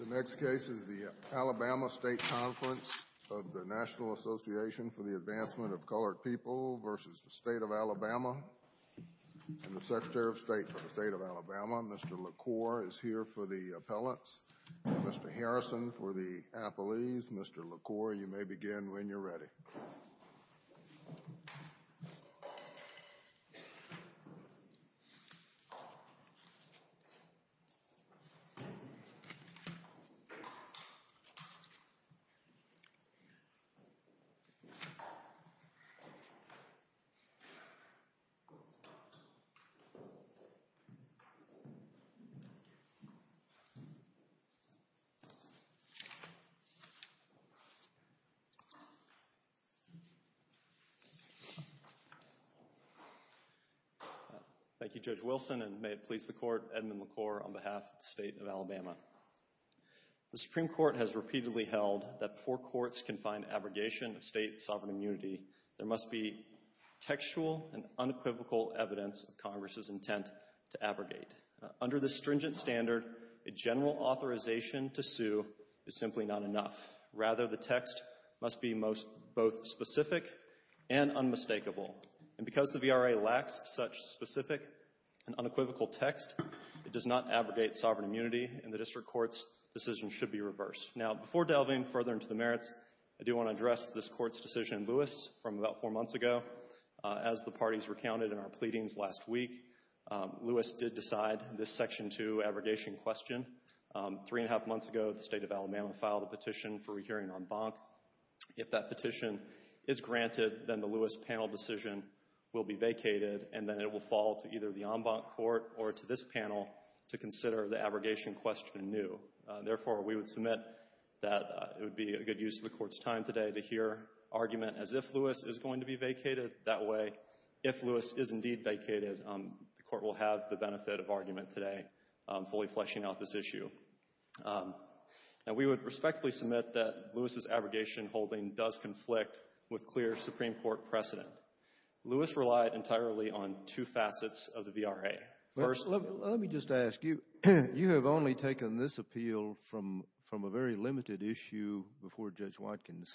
The next case is the Alabama State Conference of the National Association for the Advancement of Colored People v. the State of Alabama, and the Secretary of State for the State of Alabama, Mr. LaCour, is here for the appellants. Mr. Harrison for the appellees. Mr. LaCour, you may begin when you're ready. Thank you, Judge Wilson, and may it please the Court, Edmund LaCour on behalf of the State of Alabama. The Supreme Court has repeatedly held that poor courts can find abrogation of state sovereign immunity. There must be textual and unequivocal evidence of Congress's intent to abrogate. Under the stringent standard, a general authorization to sue is simply not enough. Rather, the text must be both specific and unmistakable. And because the VRA lacks such specific and unequivocal text, it does not abrogate sovereign immunity, and the District Court's decision should be reversed. Now, before delving further into the merits, I do want to address this Court's decision in Lewis from about four months ago. As the parties recounted in our pleadings last week, Lewis did decide this Section 2 abrogation question. Three and a half months ago, the State of Alabama filed a petition for rehearing en banc. If that petition is granted, then the Lewis panel decision will be vacated, and then it will fall to either the en banc court or to this panel to consider the abrogation question anew. Therefore, we would submit that it would be a good use of the Court's time today to hear argument as if Lewis is going to be vacated. That way, if Lewis is indeed vacated, the Court will have the benefit of argument today fully fleshing out this issue. Now, we would respectfully submit that Lewis's abrogation holding does conflict with clear Supreme Court precedent. Lewis relied entirely on two facets of the VRA. First of all — You have only taken this appeal from a very limited issue before Judge Watkins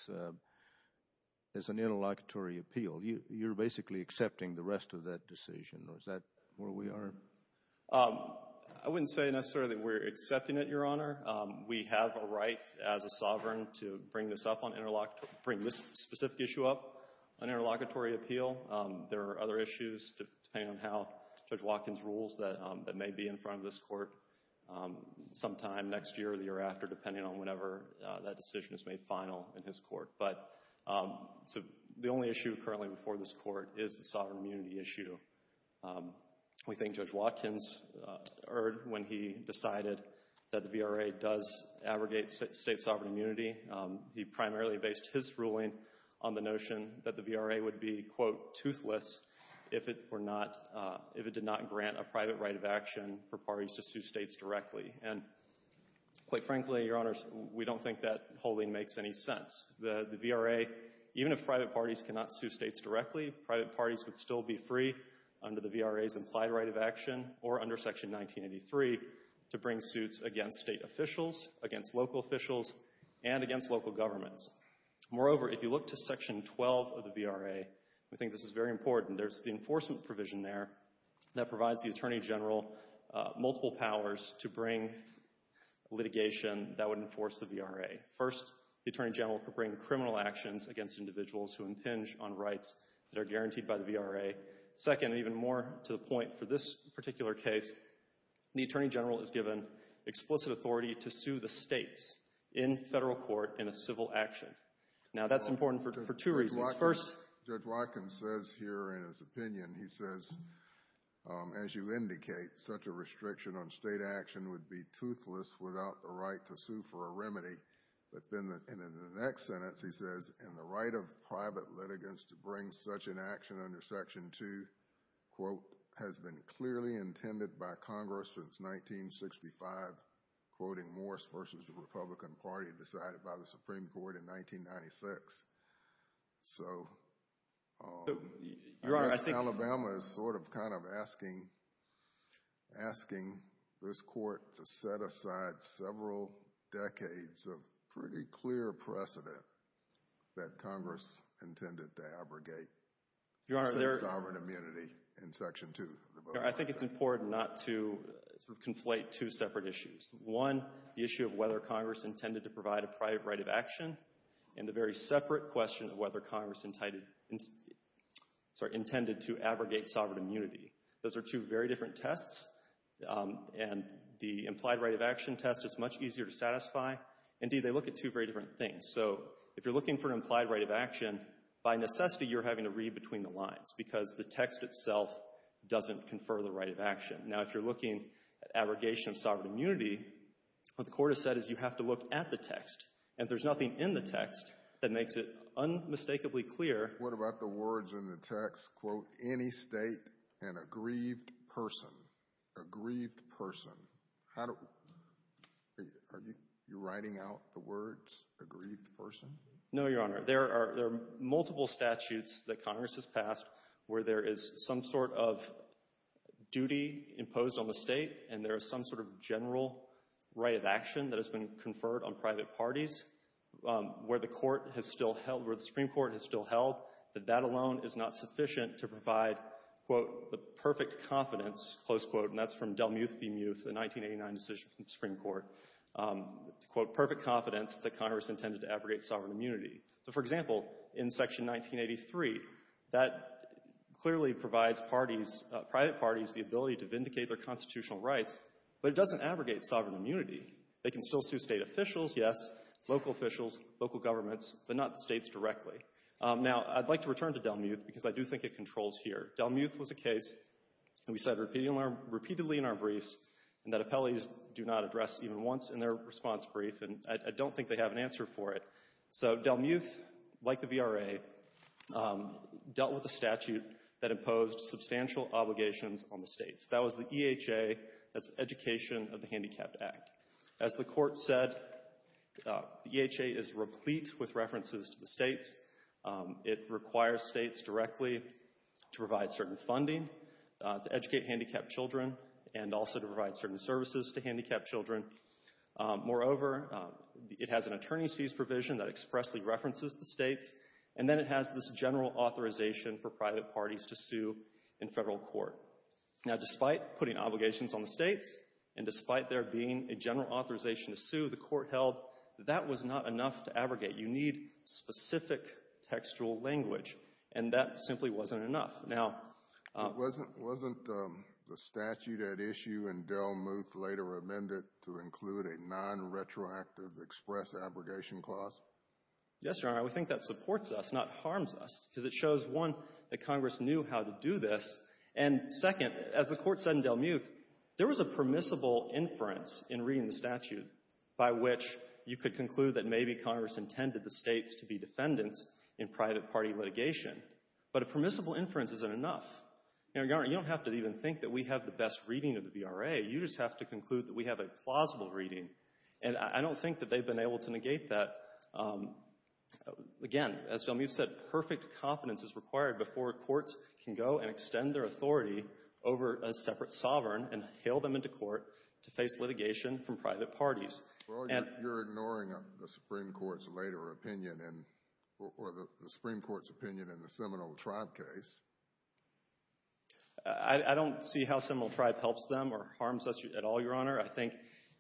as an interlocutory appeal. You're basically accepting the rest of that decision. Is that where we are? I wouldn't say necessarily that we're accepting it, Your Honor. We have a right as a sovereign to bring this up on interlocutor — bring this specific issue up on interlocutory appeal. There are other issues, depending on how Judge Watkins rules, that may be in front of this Court sometime next year or the year after, depending on whenever that decision is made final in his Court. But the only issue currently before this Court is the sovereign immunity issue. We think Judge Watkins erred when he decided that the VRA does abrogate state sovereign immunity. He primarily based his ruling on the notion that the VRA would be, quote, toothless if it were not — And, quite frankly, Your Honors, we don't think that wholly makes any sense. The VRA, even if private parties cannot sue states directly, private parties would still be free under the VRA's implied right of action or under Section 1983 to bring suits against state officials, against local officials, and against local governments. Moreover, if you look to Section 12 of the VRA, we think this is very simple. Multiple powers to bring litigation that would enforce the VRA. First, the Attorney General could bring criminal actions against individuals who impinge on rights that are guaranteed by the VRA. Second, even more to the point for this particular case, the Attorney General is given explicit authority to sue the states in federal court in a civil action. Now, that's important for such a restriction on state action would be toothless without the right to sue for a remedy. But then, in the next sentence, he says, in the right of private litigants to bring such an action under Section 2, quote, has been clearly intended by Congress since 1965, quoting Morse v. the Republican Party decided by the Supreme Court in 1996. So, I guess Alabama is sort of kind of asking this court to set aside several decades of pretty clear precedent that Congress intended to abrogate sovereign immunity in Section 2. I think it's important not to conflate two separate issues. One, the issue of whether Congress intended to provide a private right of action, and the very separate question of whether Congress intended to abrogate the right of action test. And the implied right of action test is much easier to satisfy. Indeed, they look at two very different things. So, if you're looking for an implied right of action, by necessity, you're having to read between the lines, because the text itself doesn't confer the right of action. Now, if you're looking at abrogation of sovereign immunity, what the Court has said is you have to look at the text. And if there's nothing in the text that makes it unmistakably clear — A grieved person. How do — are you writing out the words, a grieved person? No, Your Honor. There are multiple statutes that Congress has passed where there is some sort of duty imposed on the state, and there is some sort of general right of action that has been conferred on private parties, where the Court has still held, where the Supreme Court has still held, that that alone is not sufficient to provide, quote, the perfect confidence, close quote, and that's from Delmuth v. Muth, the 1989 decision from the Supreme Court, quote, perfect confidence that Congress intended to abrogate sovereign immunity. So, for example, in Section 1983, that clearly provides parties, private parties, the ability to vindicate their constitutional rights, but it doesn't abrogate sovereign immunity. They can still sue state officials, yes, local officials, local governments, but not the states directly. Now, I'd like to return to Delmuth, because I do think it controls here. Delmuth was a case, and we said repeatedly in our briefs, and that appellees do not address even once in their response brief, and I don't think they have an answer for it. So, Delmuth, like the VRA, dealt with a statute that imposed substantial obligations on the states. That was the EHA, that's Education of the Handicapped Act. As the Court said, the EHA is replete with references to the states. It requires states directly to provide certain funding, to educate handicapped children, and also to provide certain services to handicapped children. Moreover, it has an attorney's fees provision that expressly references the states, and then it has this general authorization for private parties to sue in federal court. Now, despite putting obligations on the states, and despite there being a general authorization to sue, the Court held that was not enough to abrogate. You need specific textual language, and that simply wasn't enough. Now, wasn't the statute at issue in Delmuth later amended to include a non-retroactive express abrogation clause? Yes, Your Honor, we think that supports us, not harms us, because it shows, one, that Congress knew how to do this, and second, as the Court said in Delmuth, there was a permissible inference in reading the states to be defendants in private party litigation. But a permissible inference isn't enough. Your Honor, you don't have to even think that we have the best reading of the VRA. You just have to conclude that we have a plausible reading. And I don't think that they've been able to negate that. Again, as Delmuth said, perfect confidence is required before courts can go and extend their authority over a separate sovereign and hail them into court to face litigation from private parties. Well, you're ignoring the Supreme Court's later opinion, or the Supreme Court's opinion in the Seminole Tribe case. I don't see how Seminole Tribe helps them or harms us at all, Your Honor. I think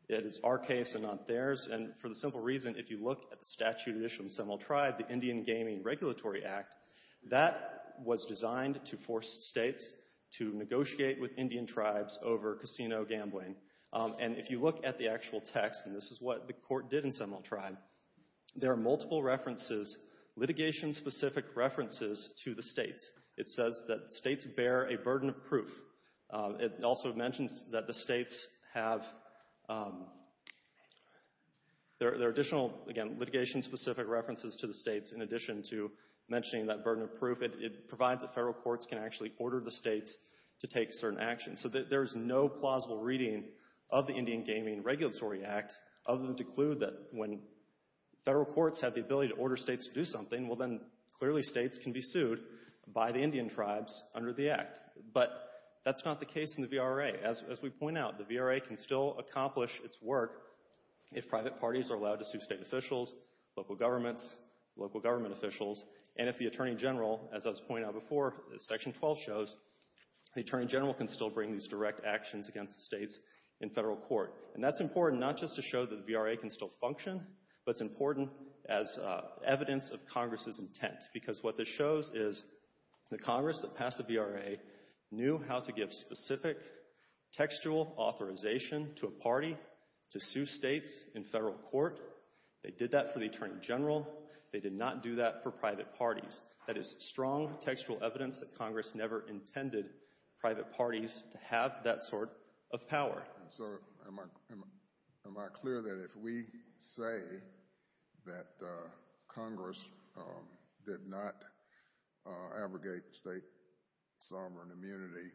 it is our case and not theirs, and for the simple reason, if you look at the statute at issue in Seminole Tribe, the Indian Gaming Regulatory Act, that was designed to force states to negotiate with Indian tribes over casino gambling. And if you look at the actual text, and this is what the court did in Seminole Tribe, there are multiple references, litigation-specific references to the states. It says that states bear a burden of proof. It also mentions that the states have, there are additional, again, litigation-specific references to the states in addition to mentioning that burden of proof. It provides that federal courts can actually order the states to take certain actions. So there's no plausible reading of the Indian Gaming Regulatory Act other than to clue that when federal courts have the ability to order states to do something, well then, clearly states can be sued by the Indian tribes under the act. But that's not the case in the VRA. As we point out, the VRA can still accomplish its work if private parties are allowed to sue state officials, local governments, local government officials, and if the Attorney General, as I was pointing out before, Section 12 shows, the Attorney General can still bring these direct actions against the states in federal court. And that's important not just to show that the VRA can still function, but it's important as evidence of Congress's intent. Because what this shows is the Congress that passed the VRA knew how to give specific textual authorization to a party to sue states in federal court. They did that for the Attorney General. They did not do that for private parties. That is strong textual evidence that states have that sort of power. So, am I clear that if we say that Congress did not abrogate state sovereign immunity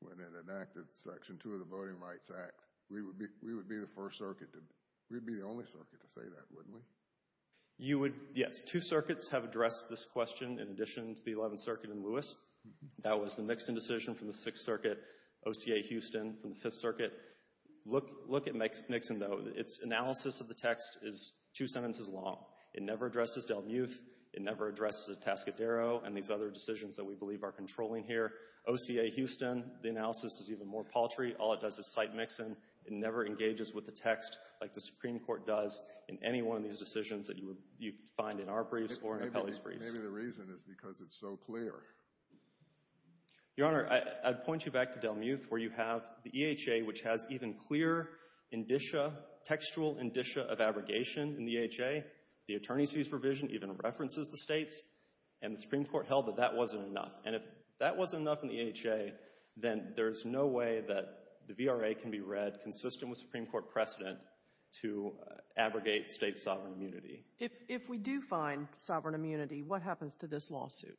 when it enacted Section 2 of the Voting Rights Act, we would be the first circuit to, we'd be the only circuit to say that, wouldn't we? You would, yes. Two circuits have addressed this question in addition to the 11th Circuit in Lewis. That was the Nixon decision from the Sixth Circuit, OCA Houston from the Fifth Circuit. Look at Nixon, though. Its analysis of the text is two sentences long. It never addresses Delmuth. It never addresses Atascadero and these other decisions that we believe are controlling here. OCA Houston, the analysis is even more paltry. All it does is cite Nixon. It never engages with the text like the Supreme Court does in any one of these decisions that Maybe the reason is because it's so clear. Your Honor, I'd point you back to Delmuth where you have the EHA, which has even clear indicia, textual indicia of abrogation in the EHA. The attorney's fees provision even references the states, and the Supreme Court held that that wasn't enough. And if that wasn't enough in the EHA, then there's no way that the VRA can be read consistent with Supreme Court precedent to abrogate state sovereign immunity. If we do find sovereign immunity, what happens to this lawsuit?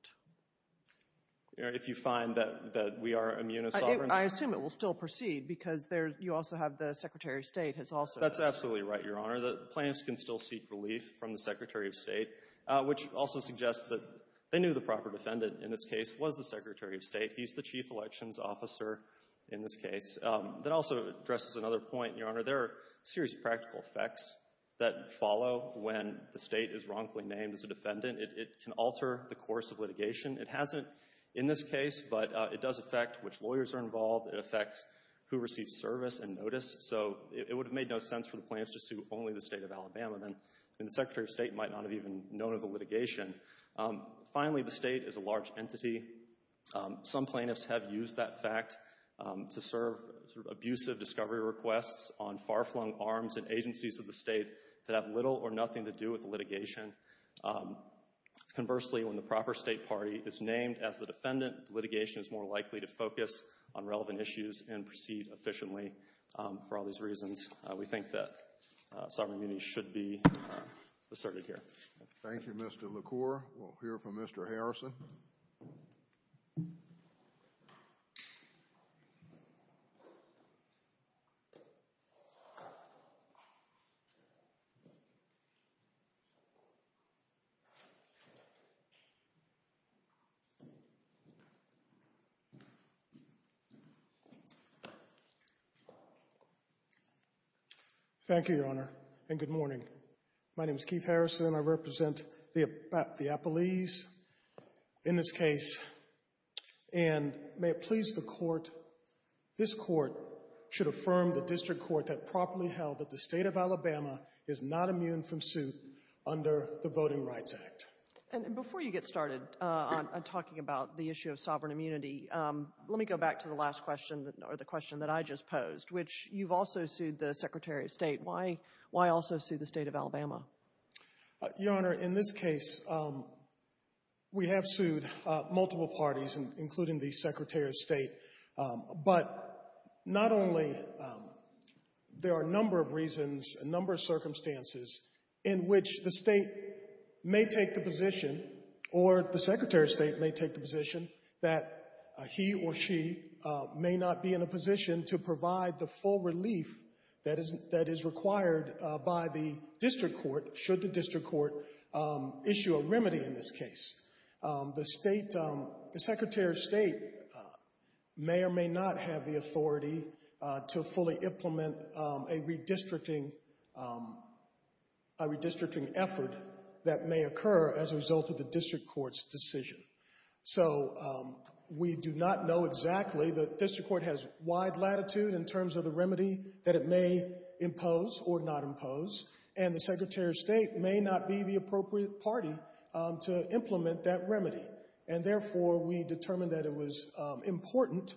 If you find that we are immuno-sovereign? I assume it will still proceed because you also have the Secretary of State has also That's absolutely right, Your Honor. The plaintiffs can still seek relief from the Secretary of State, which also suggests that they knew the proper defendant in this case was the Secretary of State. He's the chief elections officer in this case. That also addresses another point, Your Honor. There are serious practical effects that follow when the state is wrongfully named as a defendant. It can alter the course of litigation. It hasn't in this case, but it does affect which lawyers are involved. It affects who receives service and notice. So it would have made no sense for the plaintiffs to sue only the State of Alabama. Then the Secretary of State might not have even known of the litigation. Finally, the State is a large entity. Some plaintiffs have used that fact to serve abusive discovery requests on far-flung arms and agencies of the state that have little or nothing to do with the litigation. Conversely, when the proper state party is named as the defendant, litigation is more likely to focus on relevant issues and proceed efficiently for all these reasons. We think that sovereign immunity should be asserted here. Thank you, Mr. LaCour. We'll hear from Mr. Harrison. Thank you, Your Honor, and good morning. My name is Keith Harrison. I represent the State of Alabama. Your Honor, in this case, we have sued multiple parties, including the State of Alabama. Not only there are a number of reasons, a number of circumstances in which the State may take the position or the Secretary of State may take the position that he or she may not be in a position to provide the full relief that is required by the district court should the district court issue a remedy in this case. The Secretary of State may or may not be the appropriate party to fully implement a redistricting effort that may occur as a result of the district court's decision. So we do not know exactly. The district court has wide latitude in terms of the remedy that it may impose or not impose, and the Secretary of State may not be the appropriate party to implement that remedy. And therefore, we determined that it was important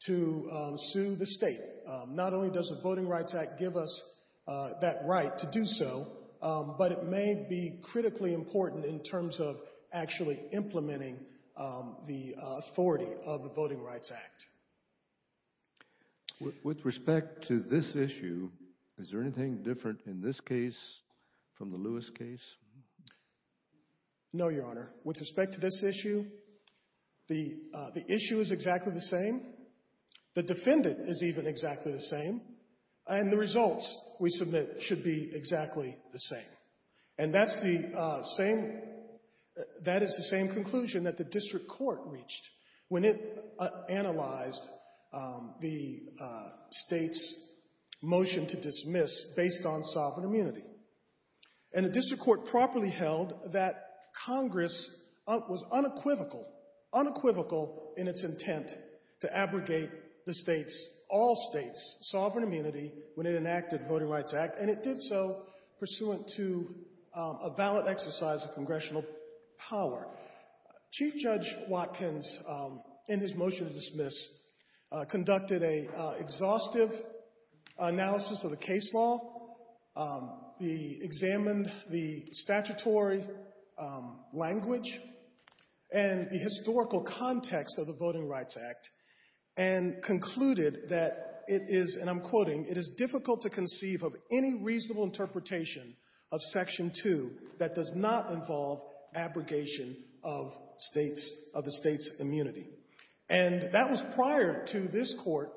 to sue the State. Not only does the Voting Rights Act give us that right to do so, but it may be critically important in terms of actually implementing the authority of the Voting Rights Act. With respect to this issue, is there anything different in this case from the Lewis case? No, Your Honor. With respect to this issue, the issue is exactly the same. The defendant is even exactly the same. And the results we submit should be exactly the same. And that's the same, that is the same conclusion that the district court reached when it analyzed the State's motion to dismiss based on sovereign immunity. And the district court properly held that Congress was unequivocal, unequivocal in its intent to abrogate the State's, all State's, sovereign immunity when it enacted the Voting Rights Act, and it did so pursuant to a valid exercise of congressional power. Chief Judge Watkins, in his motion to dismiss, conducted an exhaustive analysis of the case law, examined the statutory language and the historical context of the Voting Rights Act, and concluded that it is, and I'm quoting, it is difficult to conceive of any reasonable interpretation of Section 2 that does not involve abrogation of State's, of the State's immunity. And that was prior to this court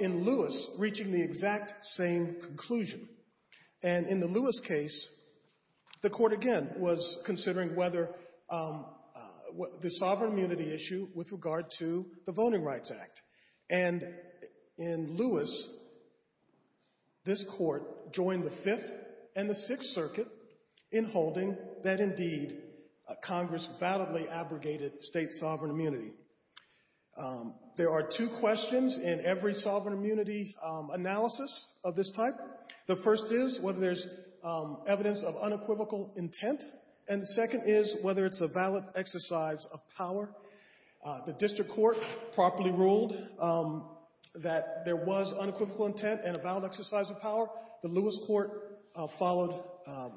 in Lewis reaching the exact same conclusion. And in the Lewis case, the court again was considering whether, the sovereign immunity issue with regard to circuit in holding that indeed Congress validly abrogated State's sovereign immunity. There are two questions in every sovereign immunity analysis of this type. The first is whether there's evidence of unequivocal intent, and the second is whether it's a valid exercise of power. The district court properly ruled that there was unequivocal intent and a valid exercise of power. The Lewis court followed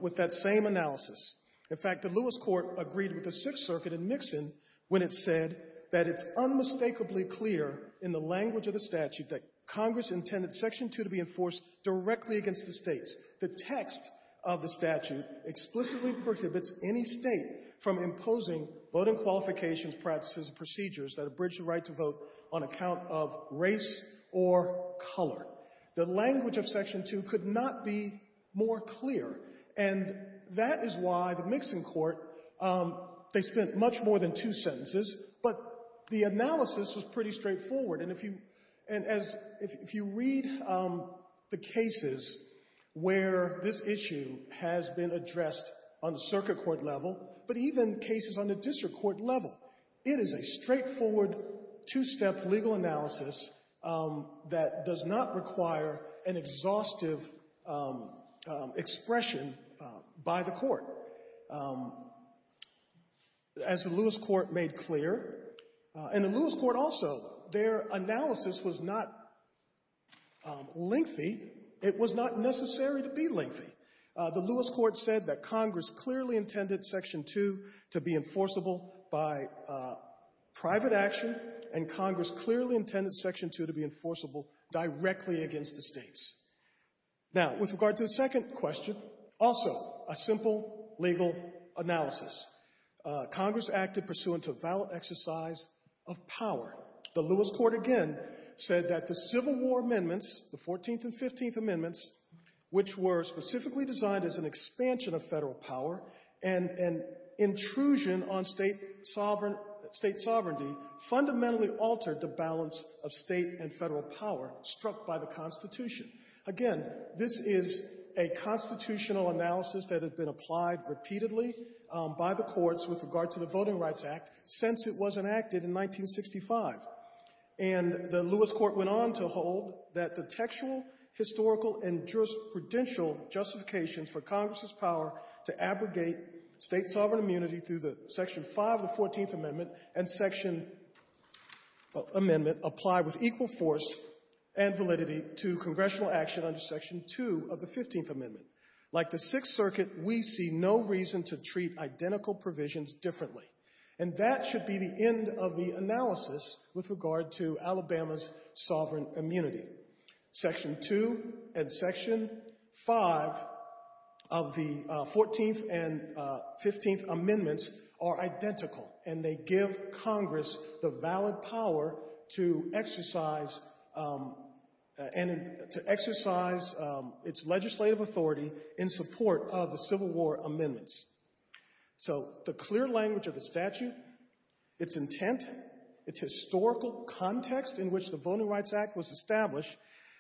with that same analysis. In fact, the Lewis court agreed with the Sixth Circuit in Nixon when it said that it's unmistakably clear in the language of the statute that Congress intended Section 2 to be enforced directly against the States. The text of the statute explicitly prohibits any State from imposing voting qualifications, practices, and procedures that abridge the right to vote on account of race or color. The language of Section 2 could not be more clear. And that is why the Nixon court, they spent much more than two sentences, but the analysis was pretty straightforward. And if you, and as, if you read the cases where this issue has been It is a straightforward, two-step legal analysis that does not require an exhaustive expression by the court. As the Lewis court made clear, and the Lewis court also, their analysis was not lengthy. It was not necessary to be lengthy. The Lewis court said that Congress clearly intended Section 2 to be enforceable by private action, and Congress clearly intended Section 2 to be enforceable directly against the States. Now, with regard to the second question, also a simple legal analysis. Congress acted pursuant to a valid exercise of power. The Lewis court again said that the Civil War amendments, the 14th and 15th designed as an expansion of Federal power and an intrusion on State sovereign State sovereignty fundamentally altered the balance of State and Federal power struck by the Constitution. Again, this is a constitutional analysis that has been applied repeatedly by the courts with regard to the Voting Rights Act since it was enacted in 1965. And the Lewis court went on to hold that the textual, historical, and jurisprudential justifications for Congress's power to abrogate State sovereign immunity through the Section 5 of the 14th Amendment and Section Amendment apply with equal force and validity to congressional action under Section 2 of the 15th Amendment of the analysis with regard to Alabama's sovereign immunity. Section 2 and Section 5 of the 14th and 15th Amendments are identical, and they give Congress the valid power to exercise its legislative authority in support of the Civil War amendment, its historical context in which the Voting Rights Act was established,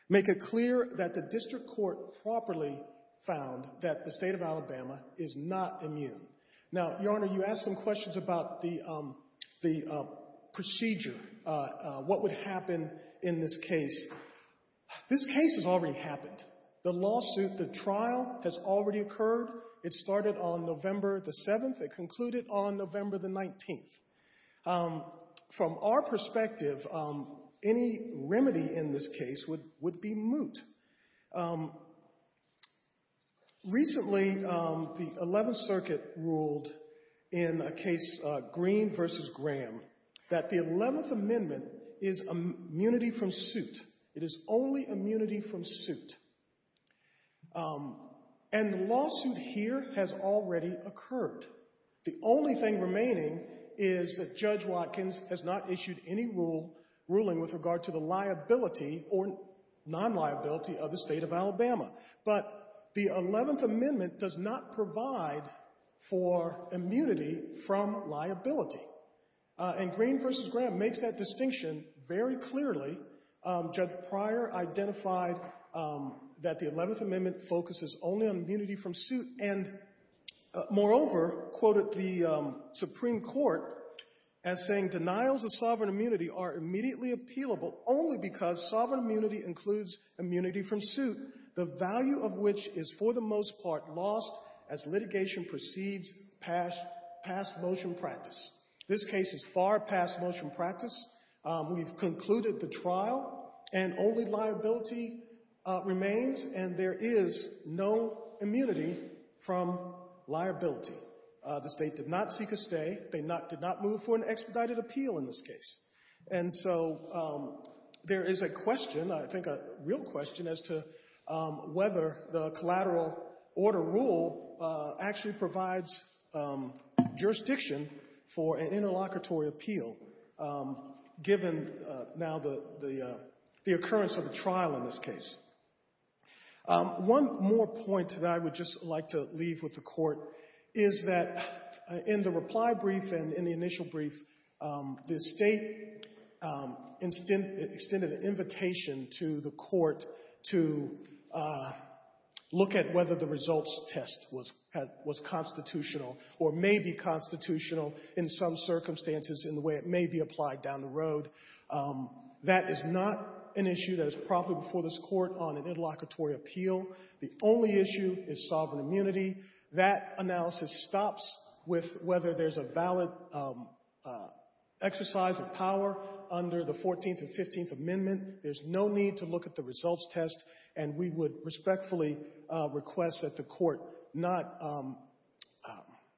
make it clear that the district court properly found that the State of Alabama is not immune. Now, Your Honor, you asked some questions about the procedure, what would happen in this case. This case has already happened. The lawsuit, the trial has already occurred. It started on November the 7th. It concluded on November the 19th. From our perspective, any remedy in this case would be moot. Recently, the 11th Circuit ruled in a case, Green v. Graham, that the 11th Amendment is immunity from liability. And the lawsuit here has already occurred. The only thing remaining is that Judge Watkins has not issued any ruling with regard to the liability or non-liability of the State of Alabama. But the 11th Amendment does not provide for immunity from liability. And Green v. Graham makes that distinction very clearly. Judge Pryor identified that the 11th Amendment focuses only on immunity from suit and, moreover, quoted the Supreme Court as saying, denials of sovereign immunity are immediately appealable only because sovereign immunity includes immunity from suit, the value of which is, for the most part, lost as litigation proceeds past motion practice. This case is far past motion practice. We've concluded the trial, and only liability remains, and there is no immunity from liability. The State did not seek a stay. They did not move for an expedited appeal in this case. And so there is a question, I think a real question, as to whether the collateral order rule actually provides jurisdiction for an interlocutory appeal, given now the occurrence of the trial in this case. One more point that I would just like to leave with the Court is that in the reply brief and in the initial brief, the State extended an invitation to the Court to look at whether the results test was constitutional or may be constitutional in some circumstances in the way it may be applied down the road. That is not an issue that is probably before this Court on an interlocutory appeal. The only issue is sovereign immunity. That analysis stops with whether there's a valid exercise of power under the Fourteenth and Fifteenth Amendment. There's no need to look at the results test, and we would respectfully request that the Court not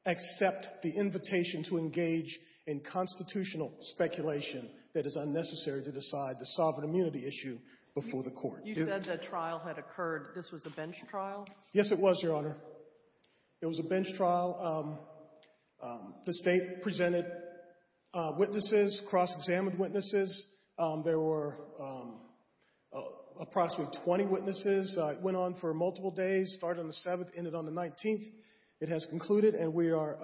accept the invitation to engage in constitutional speculation that is unnecessary to decide the sovereign immunity. It was a bench trial. The State presented witnesses, cross-examined witnesses. There were approximately 20 witnesses. It went on for multiple days, started on the 7th, ended on the 19th. It has concluded, and we are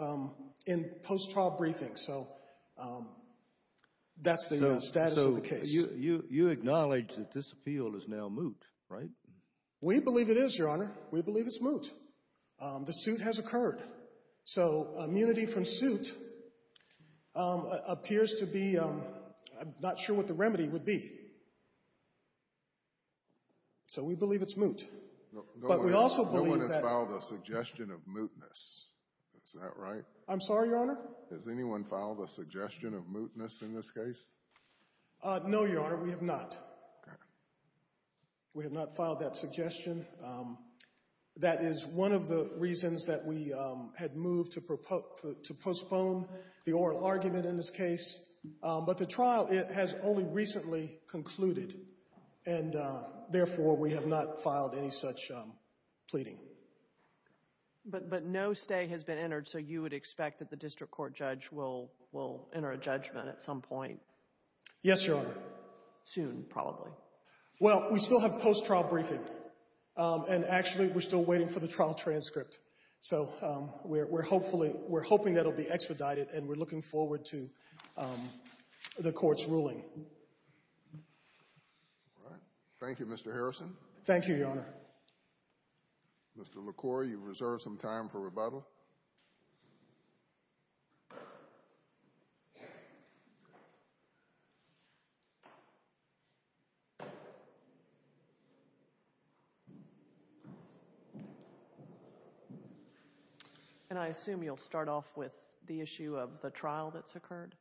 in post-trial briefing. So that's the status of the case. You acknowledge that this appeal is now moot, right? We believe it is, Your Honor. We believe it's moot. The suit has occurred. So immunity from suit appears to be... I'm not sure what the remedy would be. So we believe it's moot. But we also believe that... Is that right? I'm sorry, Your Honor? Has anyone filed a suggestion of mootness in this case? No, Your Honor. We have not. We have not filed that suggestion. That is one of the reasons that we had moved to postpone the oral argument in this case. But the trial has only recently concluded, and therefore, we have not filed any such pleading. But no stay has been entered, so you would expect that the district court judge will enter a judgment at some point? Yes, Your Honor. Soon, probably. Well, we still have post-trial briefing. And actually, we're still waiting for the trial transcript. So we're hoping that it will be expedited, and we're looking forward to the court's ruling. Thank you, Mr. Harrison. Thank you, Your Honor. Mr. LaCour, you've reserved some time for rebuttal. And I assume you'll start off with the issue of the trial that's occurred?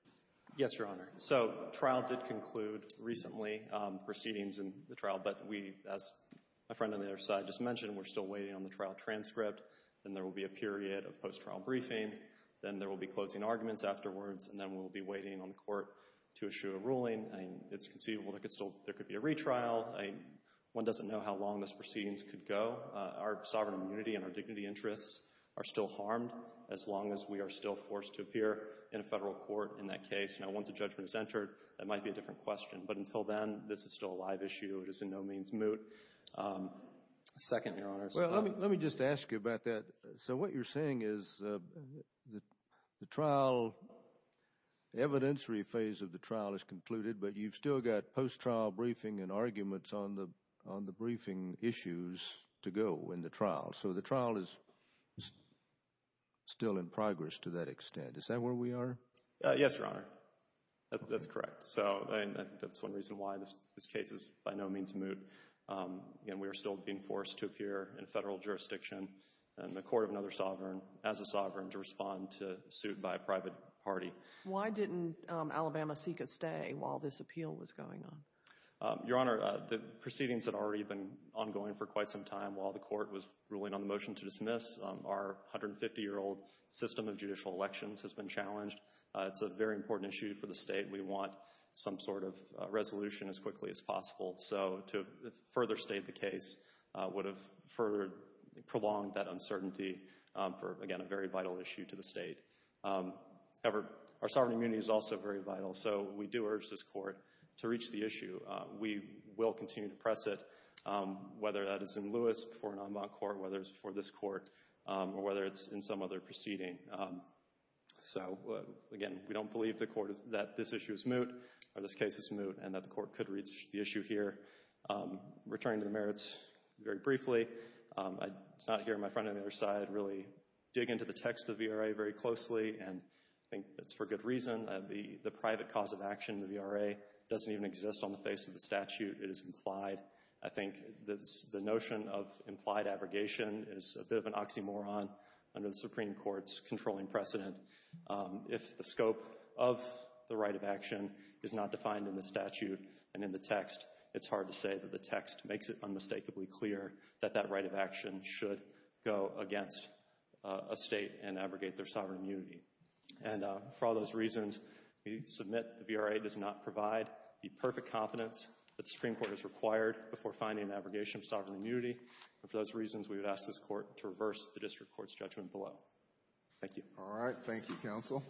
Yes, Your Honor. So, trial did conclude recently. Proceedings in the trial. But we, as my friend on the other side just mentioned, we're still waiting on the trial transcript. Then there will be a period of post-trial briefing. Then there will be closing arguments afterwards. And then we'll be waiting on the court to issue a ruling. It's conceivable there could be a retrial. One doesn't know how long those proceedings could go. Our sovereign immunity and our dignity interests are still harmed as long as we are still forced to appear in a Federal court in that case. Now, once a judgment is entered, that might be a different question. But until then, this is still a live issue. It is in no means moot. Second, Your Honor. Well, let me just ask you about that. So what you're saying is the trial, the evidentiary phase of the trial is concluded, but you've still got post-trial briefing and arguments on the briefing issues to go in the trial. So the trial is still in progress to that extent. Is that where we are? Yes, Your Honor. That's correct. So that's one reason why this case is by no means moot. We are still being forced to appear in Federal jurisdiction in the court of another sovereign, as a sovereign, to respond to a suit by a private party. Why didn't Alabama seek a stay while this appeal was going on? Your Honor, the proceedings had already been ongoing for quite some time while the court was ruling on the motion to dismiss. Our 150-year-old system of judicial elections has been challenged. It's a very important issue for the state. We want some sort of resolution as quickly as possible. So to further state the case would have further prolonged that uncertainty for, again, a very vital issue to the state. However, our sovereign immunity is also very vital, so we do urge this court to reach the issue. We will continue to press it, whether that is in Lewis before an en banc court, whether it's before this court, or whether it's in some other proceeding. So, again, we don't believe the court, that this issue is moot, or this case is moot, and that the court could reach the issue here. Returning to the merits very briefly, I did not hear my friend on the other side really dig into the text of the V.R.A. very closely, and I think that's for good reason. The private cause of action in the V.R.A. doesn't even exist on the face of the statute. It is implied. I think the notion of implied abrogation is a bit of an oxymoron under the Supreme Court's controlling precedent. If the scope of the right of action is not defined in the statute and in the text, it's hard to say that the text makes it unmistakably clear that that right of action should go against a state and abrogate their sovereign immunity. And for all those reasons, we submit the V.R.A. does not provide the perfect competence that the Supreme Court has required before finding an abrogation of sovereign Thank you, Counsel.